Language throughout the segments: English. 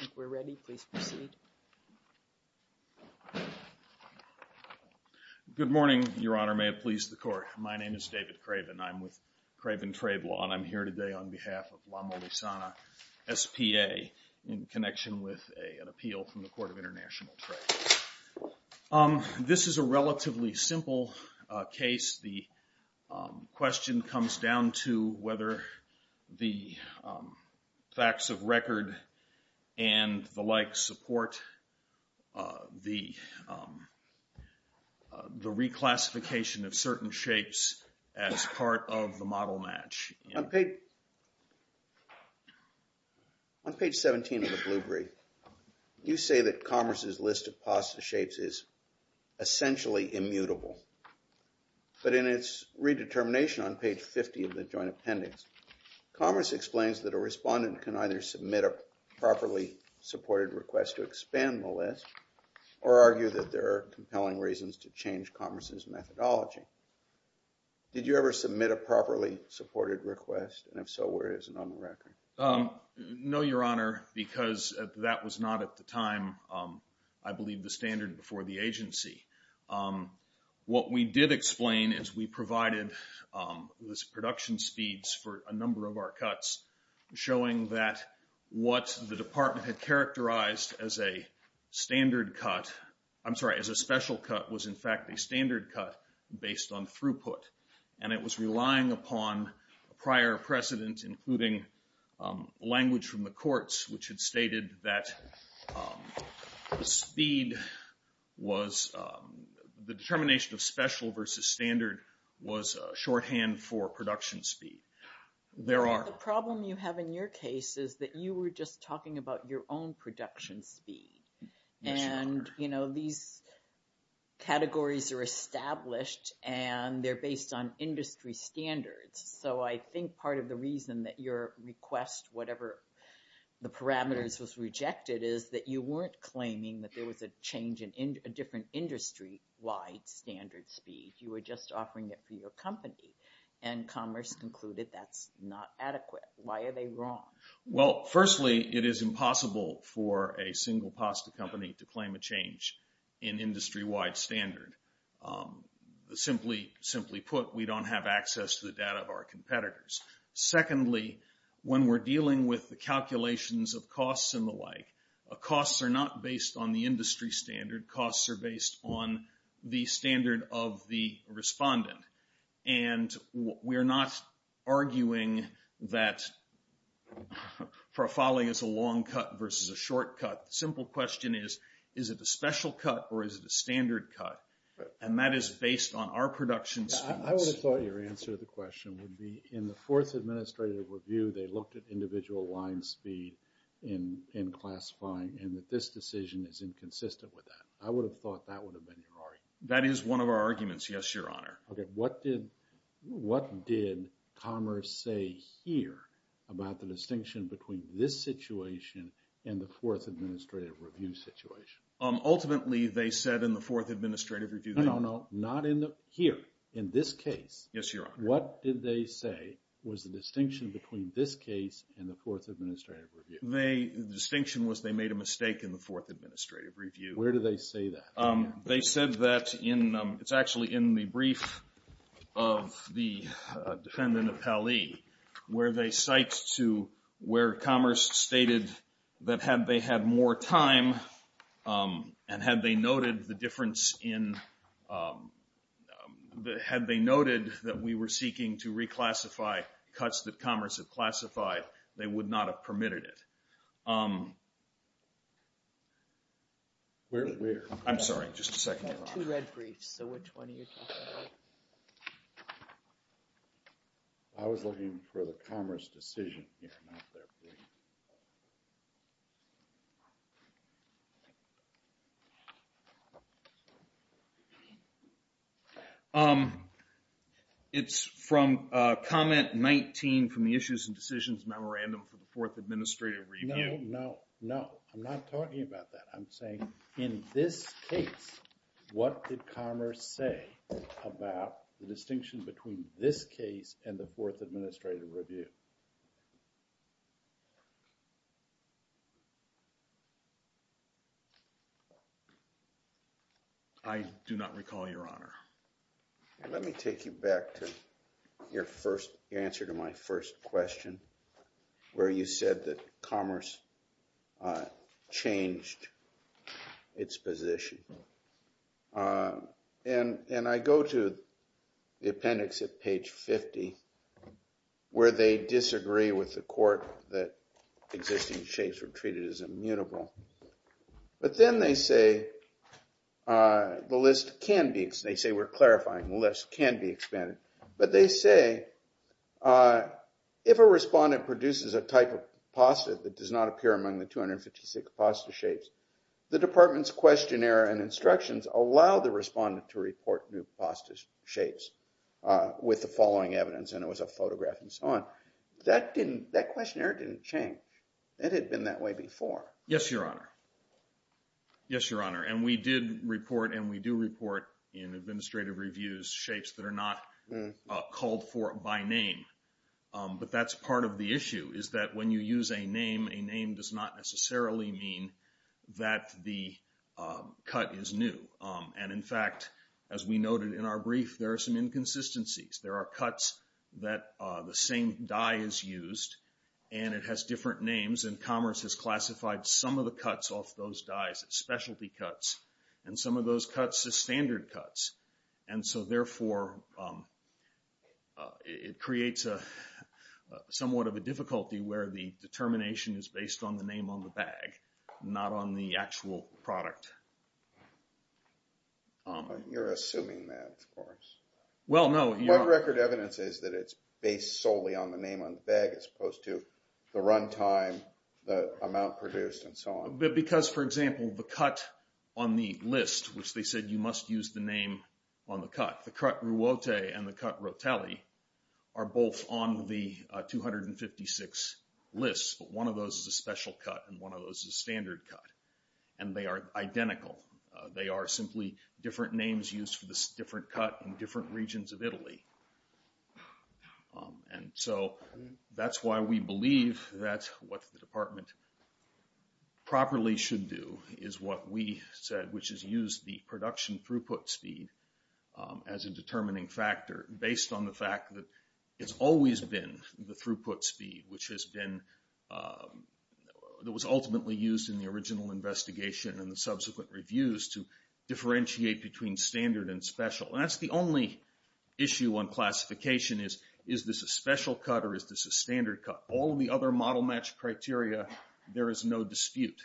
I think we're ready. Please proceed. Good morning, Your Honor. May it please the Court. My name is David Craven. I'm with Craven Trade Law, and I'm here today on behalf of La Molisana S.p.A. in connection with an appeal from the Court of International Trade. This is a relatively simple case. The question comes down to whether the facts of record and the like support the reclassification of certain shapes as part of the model match. On page 17 of the Blue Brief, you say that Commerce's list of pasta shapes is essentially immutable. But in its redetermination on page 50 of the Joint Appendix, Commerce explains that a respondent can either submit a properly supported request to expand the list or argue that there are compelling reasons to change Commerce's methodology. Did you ever submit a properly supported request? And if so, where is it on the record? No, Your Honor, because that was not at the time, I believe, the standard before the agency. What we did explain is we provided production speeds for a number of our cuts, showing that what the Department had characterized as a standard cut, I'm sorry, as a special cut was in fact a standard cut based on throughput. And it was relying upon a prior precedent, including language from the courts, which had stated that speed was, the determination of special versus standard was shorthand for production speed. There are- The problem you have in your case is that you were just talking about your own production speed. Yes, Your Honor. And these categories are established and they're based on industry standards. So I think part of the reason that your request, whatever the parameters, was rejected is that you weren't claiming that there was a change in a different industry-wide standard speed. You were just offering it for your company. And Commerce concluded that's not adequate. Why are they wrong? Well, firstly, it is impossible for a single pasta company to claim a change in industry-wide standard. Simply put, we don't have access to the data of our competitors. Secondly, when we're dealing with the calculations of costs and the like, costs are not based on the industry standard. Costs are based on the standard of the respondent. And we're not arguing that for a folly, it's a long cut versus a short cut. The simple question is, is it a special cut or is it a standard cut? And that is based on our production speeds. I would have thought your answer to the question would be in the fourth administrative review, they looked at individual line speed in classifying and that this decision is inconsistent with that. I would have thought that would have been your argument. That is one of our arguments, yes, Your Honor. Okay, what did Commerce say here about the distinction between this situation and the fourth administrative review situation? Ultimately, they said in the fourth administrative review... No, no, no. Not in the... Here, in this case. Yes, Your Honor. What did they say was the distinction between this case and the fourth administrative review? The distinction was they made a mistake in the fourth administrative review. Where do they say that? They said that in... It's actually in the brief of the defendant, Appali, where they cite to where Commerce stated that had they had more time and had they noted the difference in... Had they noted that we were seeking to reclassify cuts that Commerce had classified, they would not have permitted it. Where? I'm sorry, just a second, Your Honor. Two red briefs, so which one are you talking about? I was looking for the Commerce decision here, not their brief. It's from comment 19 from the issues and decisions memorandum for the fourth administrative review. No, no, no. I'm not talking about that. I'm saying in this case, what did Commerce say about the distinction between this case and the fourth administrative review? I do not recall, Your Honor. Let me take you back to your first... Your answer to my first question where you said that Commerce changed its position. And I go to the appendix at page 50 where they disagree with the court that existing shapes were treated as immutable. But then they say the list can be... They say we're clarifying the list can be expanded. But they say if a respondent produces a type of pasta that does not appear among the 256 pasta shapes, the department's questionnaire and instructions allow the respondent to report new pasta shapes with the following evidence. And it was a photograph and so on. That questionnaire didn't change. It had been that way before. Yes, Your Honor. Yes, Your Honor. And we did report and we do report in administrative reviews shapes that are not called for by name. But that's part of the issue is that when you use a name, a name does not necessarily mean that the cut is new. And, in fact, as we noted in our brief, there are some inconsistencies. There are cuts that the same dye is used and it has different names. And CMS has classified some of the cuts off those dyes as specialty cuts and some of those cuts as standard cuts. And so, therefore, it creates somewhat of a difficulty where the determination is based on the name on the bag, not on the actual product. You're assuming that, of course. Well, no. My record evidence is that it's based solely on the name on the bag as opposed to the run time, the amount produced, and so on. Because, for example, the cut on the list, which they said you must use the name on the cut, the cut Ruote and the cut Rotelli are both on the 256 lists. But one of those is a special cut and one of those is a standard cut. And they are identical. They are simply different names used for this different cut in different regions of Italy. And so that's why we believe that what the department properly should do is what we said, which is use the production throughput speed as a determining factor based on the fact that it's always been the throughput speed, which has been, that was ultimately used in the original investigation and the subsequent reviews to differentiate between standard and special. And that's the only issue on classification is, is this a special cut or is this a standard cut? All of the other model match criteria, there is no dispute.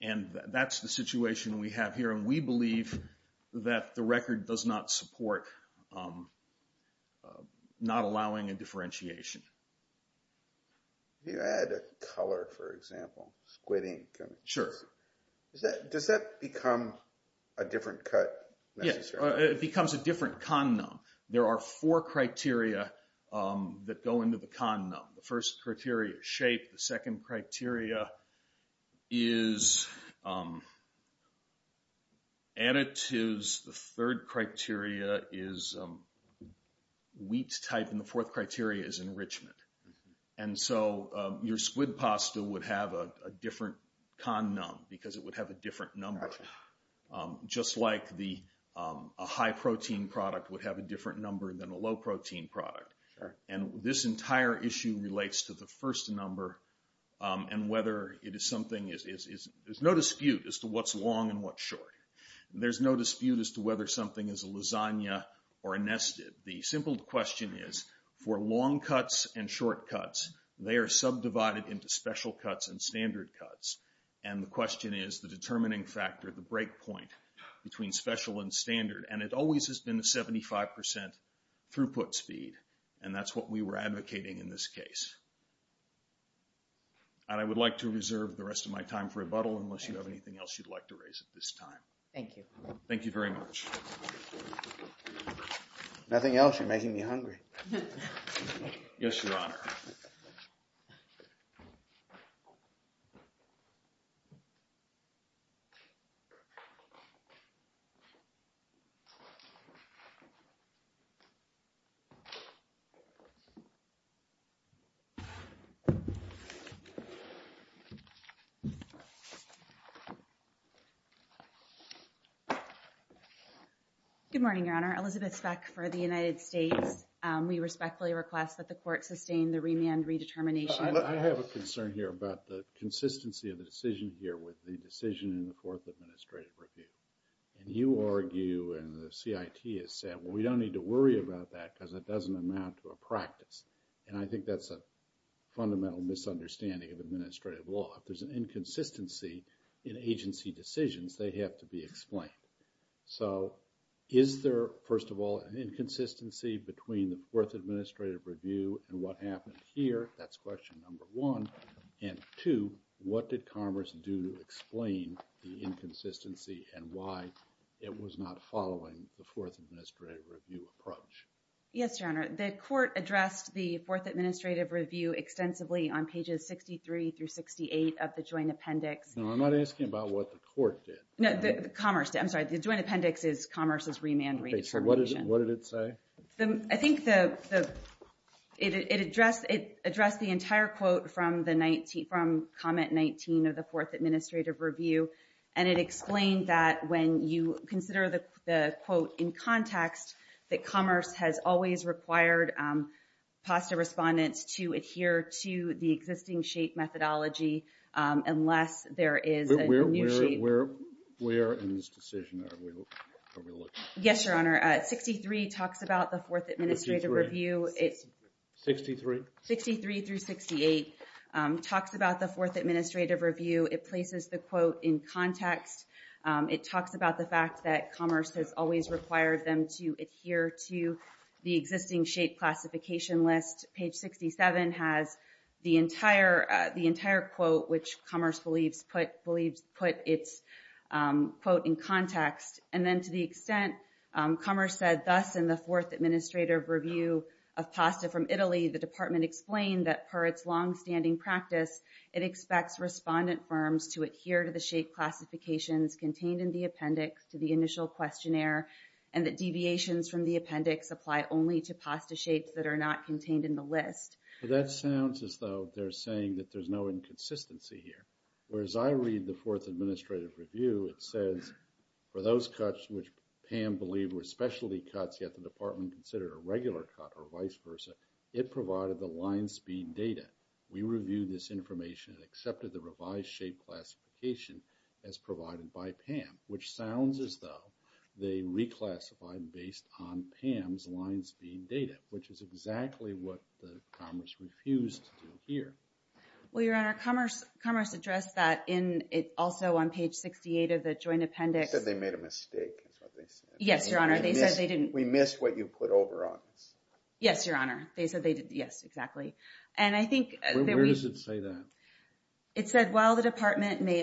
And that's the situation we have here. And we believe that the record does not support not allowing a differentiation. You add a color, for example, squid ink. Sure. Does that become a different cut? Yes, it becomes a different condom. There are four criteria that go into the condom. The first criteria is shape. The second criteria is additives. The third criteria is wheat type. And the fourth criteria is enrichment. And so your squid pasta would have a different condom because it would have a different number, just like a high-protein product would have a different number than a low-protein product. Sure. And this entire issue relates to the first number and whether it is something is, there's no dispute as to what's long and what's short. There's no dispute as to whether something is a lasagna or a nested. The simple question is, for long cuts and short cuts, they are subdivided into special cuts and standard cuts. And the question is the determining factor, the break point between special and standard. And it always has been a 75% throughput speed. And that's what we were advocating in this case. And I would like to reserve the rest of my time for rebuttal unless you have anything else you'd like to raise at this time. Thank you. Thank you very much. Nothing else. You're making me hungry. Yes, Your Honor. Good morning, Your Honor. Elizabeth Speck for the United States. We respectfully request that the court sustain the remand redetermination. I have a concern here about the consistency of the decision here with the decision in the Court of Administrative Review. And you argue and the CIT has said, well, we don't need to worry about that because it doesn't amount to a practice. And I think that's a fundamental misunderstanding of administrative law. If there's an inconsistency in agency decisions, they have to be explained. So is there, first of all, an inconsistency between the Fourth Administrative Review and what happened here? That's question number one. And two, what did Commerce do to explain the inconsistency and why it was not following the Fourth Administrative Review approach? Yes, Your Honor. The court addressed the Fourth Administrative Review extensively on pages 63 through 68 of the joint appendix. No, I'm not asking about what the court did. No, the Commerce did. I'm sorry. The joint appendix is Commerce's remand redetermination. What did it say? I think it addressed the entire quote from Comment 19 of the Fourth Administrative Review. And it explained that when you consider the quote in context, that Commerce has always required PASTA respondents to adhere to the existing SHAPE methodology unless there is a new SHAPE. Where in this decision are we looking? Yes, Your Honor. 63 talks about the Fourth Administrative Review. 63? 63 through 68 talks about the Fourth Administrative Review. It places the quote in context. It talks about the fact that Commerce has always required them to adhere to the existing SHAPE classification list. Page 67 has the entire quote, which Commerce believes put its quote in context. And then to the extent Commerce said, thus in the Fourth Administrative Review of PASTA from Italy, the Department explained that per its longstanding practice, it expects respondent firms to adhere to the SHAPE classifications contained in the appendix to the initial questionnaire, and that deviations from the appendix apply only to PASTA SHAPES that are not contained in the list. That sounds as though they're saying that there's no inconsistency here. Whereas I read the Fourth Administrative Review, it says for those cuts which PAM believed were specialty cuts, yet the Department considered a regular cut or vice versa, it provided the line speed data. We reviewed this information and accepted the revised SHAPE classification as provided by PAM, which sounds as though they reclassified based on PAM's line speed data, which is exactly what Commerce refused to do here. Well, Your Honor, Commerce addressed that also on page 68 of the joint appendix. They said they made a mistake, is what they said. Yes, Your Honor. We missed what you put over on us. Yes, Your Honor. They said they did. Yes, exactly. And I think that we... Where does it say that? It said while the Department may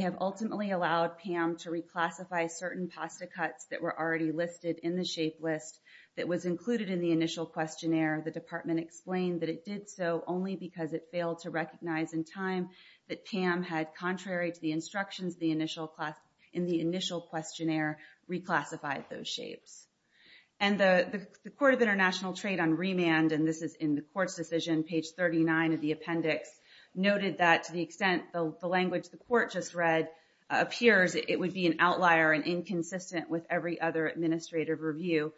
have ultimately allowed PAM to reclassify certain PASTA cuts that were already listed in the SHAPE list that was included in the initial questionnaire, the Department explained that it did so only because it failed to recognize in time that PAM had, contrary to the instructions in the initial questionnaire, reclassified those SHAPEs. And the Court of International Trade on Remand, and this is in the Court's decision, page 39 of the appendix, noted that to the extent the language the Court just read appears, it would be an outlier and inconsistent with every other administrative review.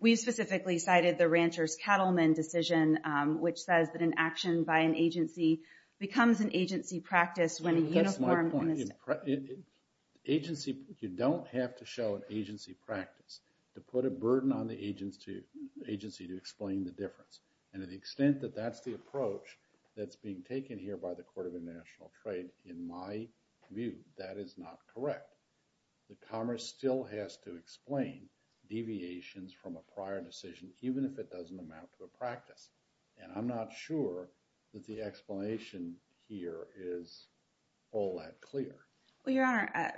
We specifically cited the Rancher's Cattlemen decision, which says that an action by an agency becomes an agency practice when a uniform... That's my point. Agency, you don't have to show an agency practice to put a burden on the agency to explain the difference. And to the extent that that's the approach that's being taken here by the Court of International Trade, in my view, that is not correct. The Commerce still has to explain deviations from a prior decision, even if it doesn't amount to a practice. And I'm not sure that the explanation here is all that clear. Well, Your Honor,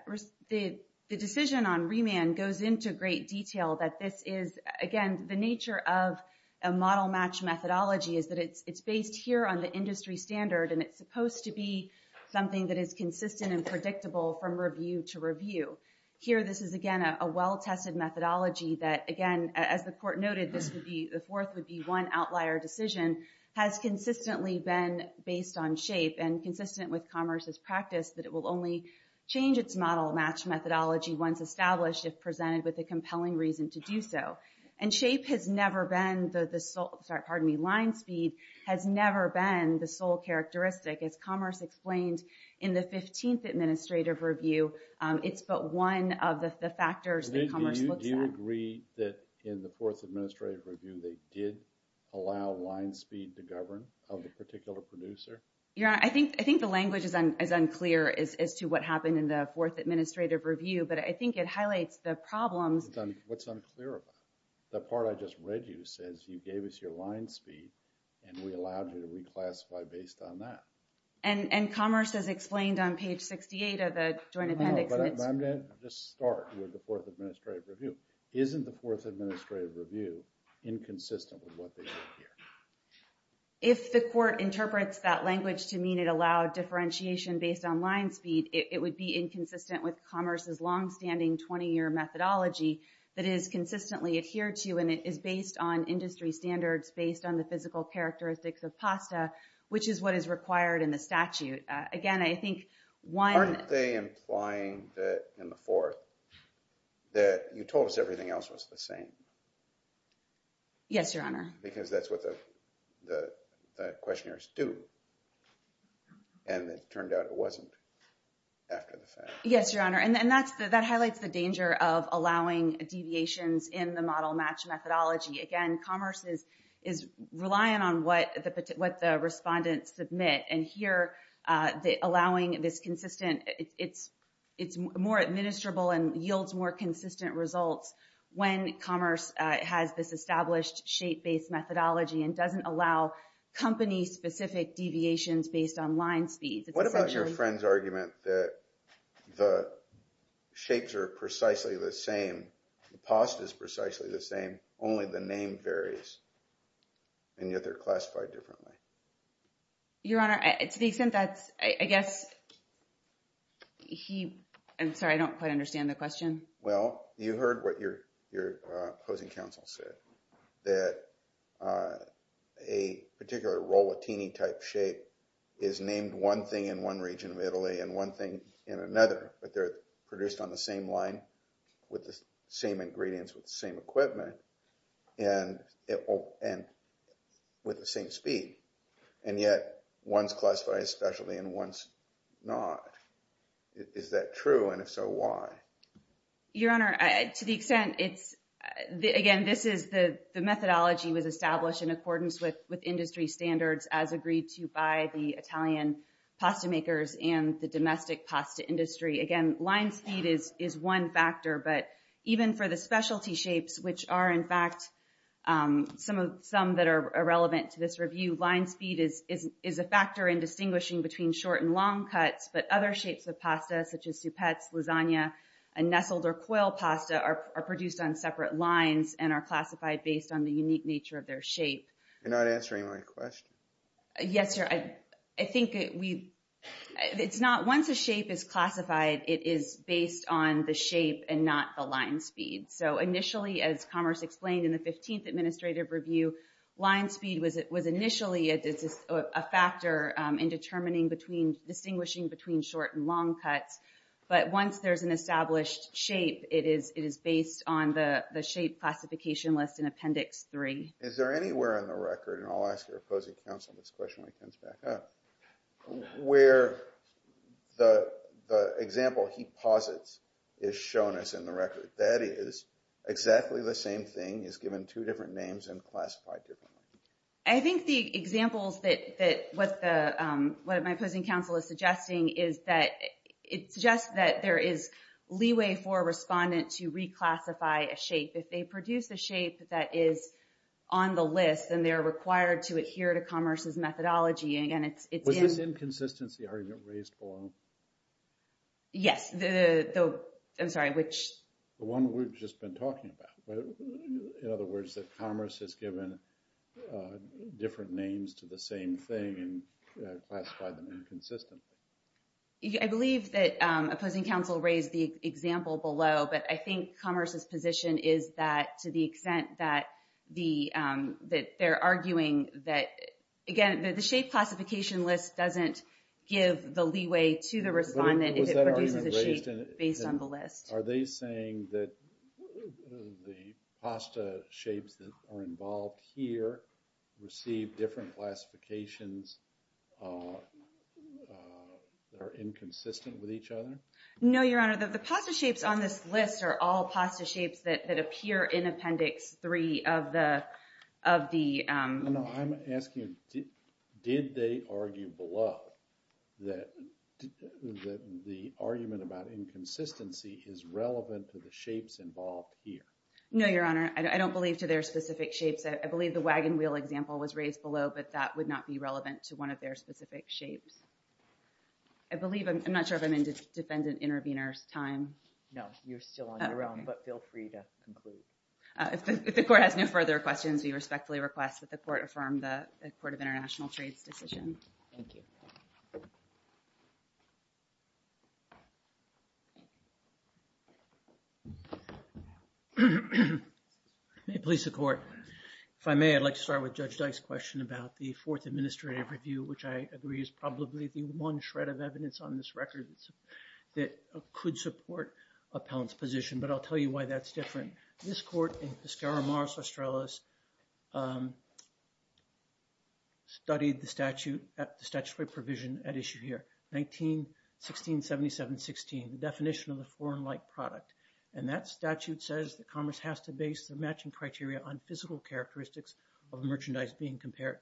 the decision on remand goes into great detail that this is, again, the nature of a model-match methodology is that it's based here on the industry standard, and it's supposed to be something that is consistent and predictable from review to review. Here, this is, again, a well-tested methodology that, again, as the Court noted, the fourth would be one outlier decision, has consistently been based on shape and consistent with Commerce's practice that it will only change its model-match methodology once established if presented with a compelling reason to do so. And shape has never been the sole... Sorry, pardon me. Line speed has never been the sole characteristic. As Commerce explained in the 15th Administrative Review, it's but one of the factors that Commerce looks at. Do you agree that in the fourth Administrative Review they did allow line speed to govern of a particular producer? Your Honor, I think the language is unclear as to what happened in the fourth Administrative Review, but I think it highlights the problems. What's unclear about it? The part I just read you says you gave us your line speed, and we allowed you to reclassify based on that. And Commerce has explained on page 68 of the Joint Appendix... I'm going to just start with the fourth Administrative Review. Isn't the fourth Administrative Review inconsistent with what they did here? If the Court interprets that language to mean it allowed differentiation based on line speed, it would be inconsistent with Commerce's longstanding 20-year methodology that it has consistently adhered to, and it is based on industry standards, based on the physical characteristics of pasta, which is what is required in the statute. Aren't they implying that in the fourth that you told us everything else was the same? Yes, Your Honor. Because that's what the questionnaires do, and it turned out it wasn't after the fact. Yes, Your Honor, and that highlights the danger of allowing deviations in the model match methodology. Again, Commerce is relying on what the respondents submit, and here allowing this consistent... it's more administrable and yields more consistent results when Commerce has this established shape-based methodology and doesn't allow company-specific deviations based on line speeds. What about your friend's argument that the shapes are precisely the same, the pasta is precisely the same, only the name varies, and yet they're classified differently? Your Honor, to the extent that's... I guess he... I'm sorry, I don't quite understand the question. Well, you heard what your opposing counsel said, that a particular rollatini-type shape is named one thing in one region of Italy and one thing in another, but they're produced on the same line with the same ingredients, with the same equipment, and with the same speed, and yet one's classified especially and one's not. Is that true, and if so, why? Your Honor, to the extent it's... again, this is... the methodology was established in accordance with industry standards as agreed to by the Italian pasta makers and the domestic pasta industry. Again, line speed is one factor, but even for the specialty shapes, which are in fact some that are irrelevant to this review, line speed is a factor in distinguishing between short and long cuts, but other shapes of pasta, such as soupettes, lasagna, and nestled or coiled pasta, are produced on separate lines and are classified based on the unique nature of their shape. You're not answering my question. Yes, Your Honor. I think we... it's not... once a shape is classified, it is based on the shape and not the line speed. So initially, as Commerce explained in the 15th Administrative Review, line speed was initially a factor in determining between... distinguishing between short and long cuts, but once there's an established shape, it is based on the shape classification list in Appendix 3. Is there anywhere in the record, and I'll ask your opposing counsel this question when he comes back up, where the example he posits is shown as in the record? That is, exactly the same thing is given two different names and classified differently. I think the examples that... what my opposing counsel is suggesting is that... it suggests that there is leeway for a respondent to reclassify a shape. If they produce a shape that is on the list, then they're required to adhere to Commerce's methodology. And again, it's in... Was this inconsistency argument raised below? Yes, the... I'm sorry, which... The one we've just been talking about. In other words, that Commerce has given different names to the same thing and classified them inconsistently. I believe that opposing counsel raised the example below, but I think Commerce's position is that to the extent that they're arguing that... Again, the shape classification list doesn't give the leeway to the respondent if it produces a shape based on the list. Are they saying that the pasta shapes that are involved here receive different classifications that are inconsistent with each other? No, Your Honor. The pasta shapes on this list are all pasta shapes that appear in Appendix 3 of the... No, I'm asking, did they argue below that the argument about inconsistency is relevant to the shapes involved here? No, Your Honor. I don't believe to their specific shapes. I believe the wagon wheel example was raised below, but that would not be relevant to one of their specific shapes. I believe... I'm not sure if I'm in defendant intervener's time. No, you're still on your own, but feel free to conclude. If the court has no further questions, we respectfully request that the court affirm the Court of International Trades decision. Thank you. May it please the Court. If I may, I'd like to start with Judge Dyke's question about the Fourth Administrative Review, which I agree is probably the one shred of evidence on this record that could support appellant's position, but I'll tell you why that's different. This court in Piscara Mars Australis studied the statute, the statutory provision at issue here, 19-1677-16, the definition of a foreign-like product. And that statute says that commerce has to base the matching criteria on physical characteristics of merchandise being compared.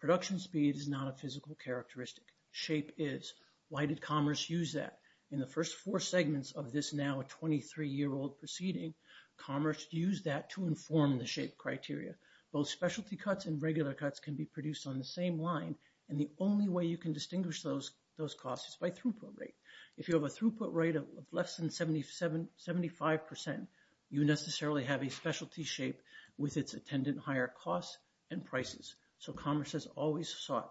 Production speed is not a physical characteristic. Shape is. Why did commerce use that? In the first four segments of this now 23-year-old proceeding, commerce used that to inform the shape criteria. Both specialty cuts and regular cuts can be produced on the same line, and the only way you can distinguish those costs is by throughput rate. If you have a throughput rate of less than 75%, you necessarily have a specialty shape with its attendant higher costs and prices. So commerce has always sought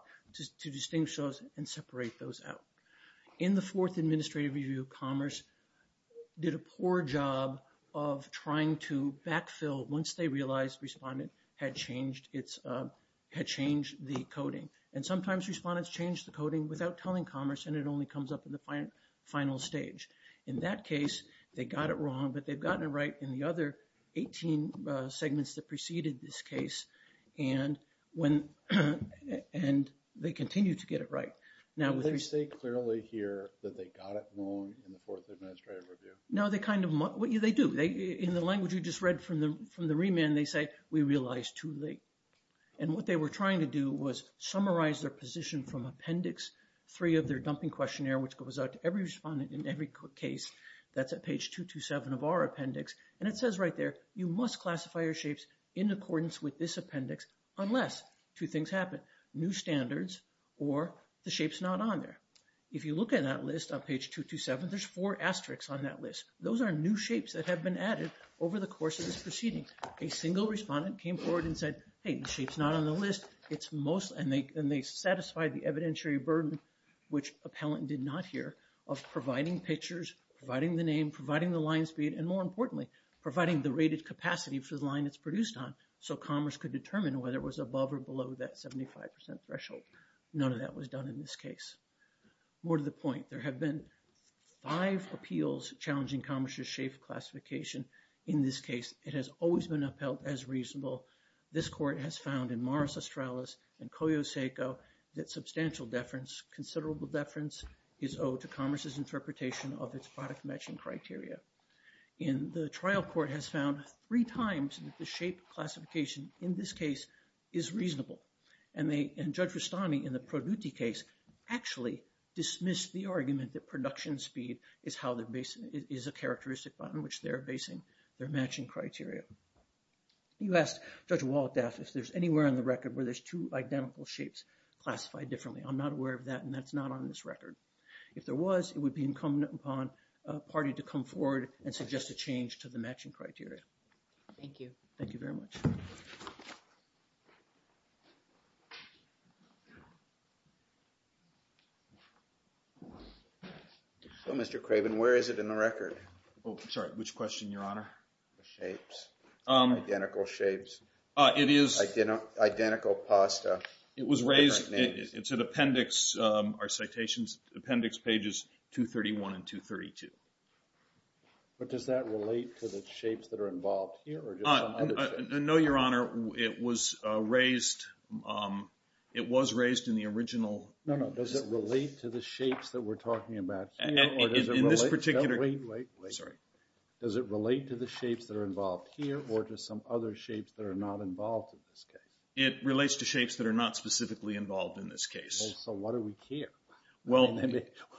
to distinguish those and separate those out. In the fourth administrative review, commerce did a poor job of trying to backfill once they realized respondent had changed the coding. And sometimes respondents change the coding without telling commerce, and it only comes up in the final stage. In that case, they got it wrong, but they've gotten it right in the other 18 segments that preceded this case, and they continue to get it right. Did they say clearly here that they got it wrong in the fourth administrative review? No, they kind of, they do. In the language you just read from the remand, they say, we realized too late. And what they were trying to do was summarize their position from appendix three of their dumping questionnaire, which goes out to every respondent in every case that's at page 227 of our appendix. And it says right there, you must classify your shapes in accordance with this appendix unless two things happen. New standards or the shape's not on there. If you look at that list on page 227, there's four asterisks on that list. Those are new shapes that have been added over the course of this proceeding. A single respondent came forward and said, hey, the shape's not on the list. And they satisfied the evidentiary burden, which appellant did not hear, of providing pictures, providing the name, providing the line speed, and more importantly, providing the rated capacity for the line it's produced on, so Commerce could determine whether it was above or below that 75% threshold. None of that was done in this case. More to the point, there have been five appeals challenging Commerce's shape classification. In this case, it has always been upheld as reasonable. This court has found in Morris Australis and Koyo Seiko that substantial deference, considerable deference is owed to Commerce's interpretation of its product matching criteria. And the trial court has found three times that the shape classification in this case is reasonable. And Judge Rustami in the Produtti case actually dismissed the argument that production speed is a characteristic on which they're basing their matching criteria. You asked Judge Waldaff if there's anywhere on the record where there's two identical shapes classified differently. I'm not aware of that, and that's not on this record. If there was, it would be incumbent upon a party to come forward and suggest a change to the matching criteria. Thank you. Thank you very much. So, Mr. Craven, where is it in the record? Oh, sorry, which question, Your Honor? The shapes. Identical shapes. It is. Identical pasta. It was raised, it's an appendix, our citation's appendix pages 231 and 232. But does that relate to the shapes that are involved here or just some other shapes? No, Your Honor. It was raised, it was raised in the original. No, no. Does it relate to the shapes that we're talking about here? In this particular. Wait, wait, wait. Sorry. Does it relate to the shapes that are involved here or to some other shapes that are not involved in this case? It relates to shapes that are not specifically involved in this case. Well, so what do we care? Well.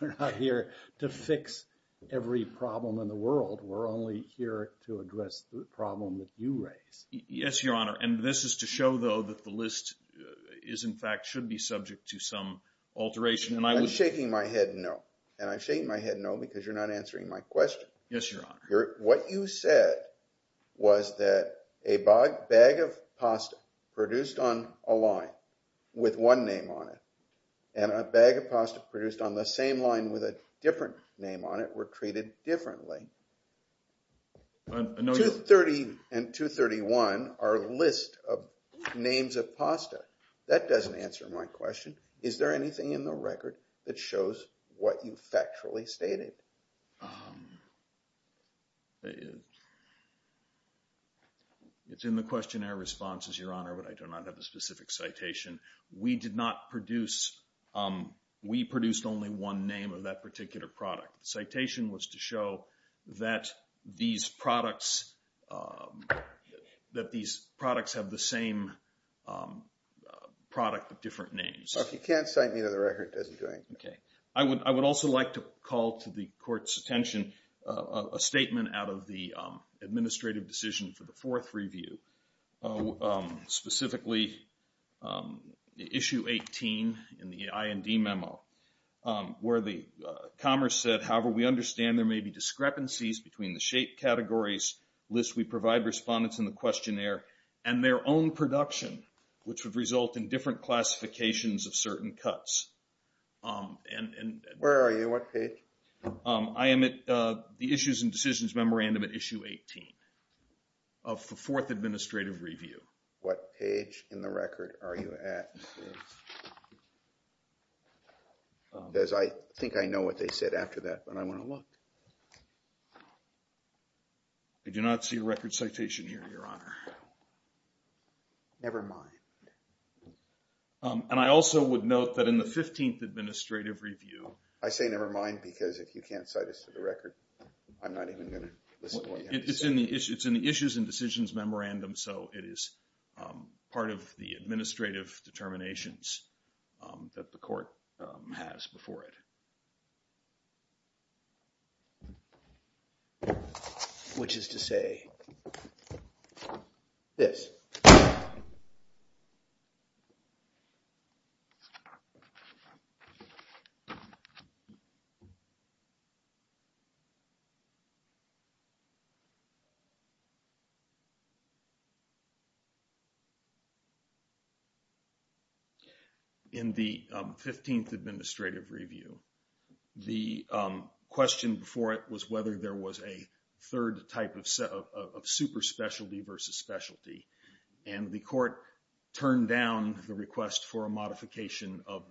We're not here to fix every problem in the world. We're only here to address the problem that you raise. Yes, Your Honor. And this is to show, though, that the list is, in fact, should be subject to some alteration. I'm shaking my head no. And I'm shaking my head no because you're not answering my question. Yes, Your Honor. What you said was that a bag of pasta produced on a line with one name on it and a bag of pasta produced on the same line with a different name on it were treated differently. 230 and 231 are a list of names of pasta. That doesn't answer my question. Is there anything in the record that shows what you factually stated? It's in the questionnaire responses, Your Honor, but I do not have a specific citation. We did not produce. We produced only one name of that particular product. The citation was to show that these products have the same product with different names. Well, if you can't cite me to the record, that's fine. Okay. I would also like to call to the Court's attention a statement out of the administrative decision for the fourth review, specifically issue 18 in the IND memo, where the commerce said, however, we understand there may be discrepancies between the shape, categories, lists we provide respondents in the questionnaire, and their own production, which would result in different classifications of certain cuts. Where are you? What page? I am at the issues and decisions memorandum at issue 18 of the fourth administrative review. What page in the record are you at? Because I think I know what they said after that, but I want to look. I do not see a record citation here, Your Honor. Never mind. And I also would note that in the 15th administrative review. I say never mind because if you can't cite us to the record, I'm not even going to listen to what you have to say. It's in the issues and decisions memorandum, so it is part of the administrative determinations that the Court has before it. Which is to say this. In the 15th administrative review, the question before it was whether there was a third type of superspecialty versus specialty, and the Court turned down the request for a modification of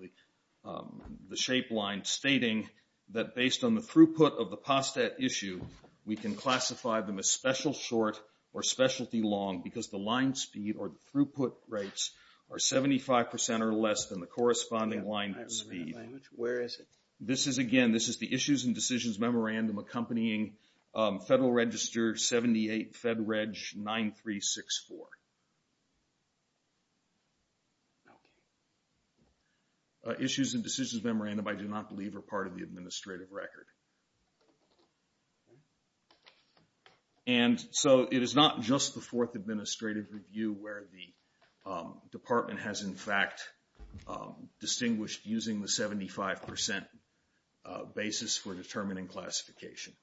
the shape line, stating that based on the throughput of the POSTET issue, we can classify them as special short or specialty long because the line speed or throughput rates are 75% or less than the corresponding line speed. Where is it? This is, again, this is the issues and decisions memorandum accompanying Federal Register 78, Fed Reg 9364. Issues and decisions memorandum, I do not believe, are part of the administrative record. And so it is not just the fourth administrative review where the Department has, in fact, distinguished using the 75% basis for determining classification.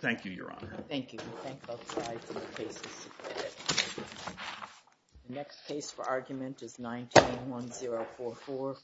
Thank you, Your Honor. Thank you. The next case for argument is 192044, Flores v. Wilkie.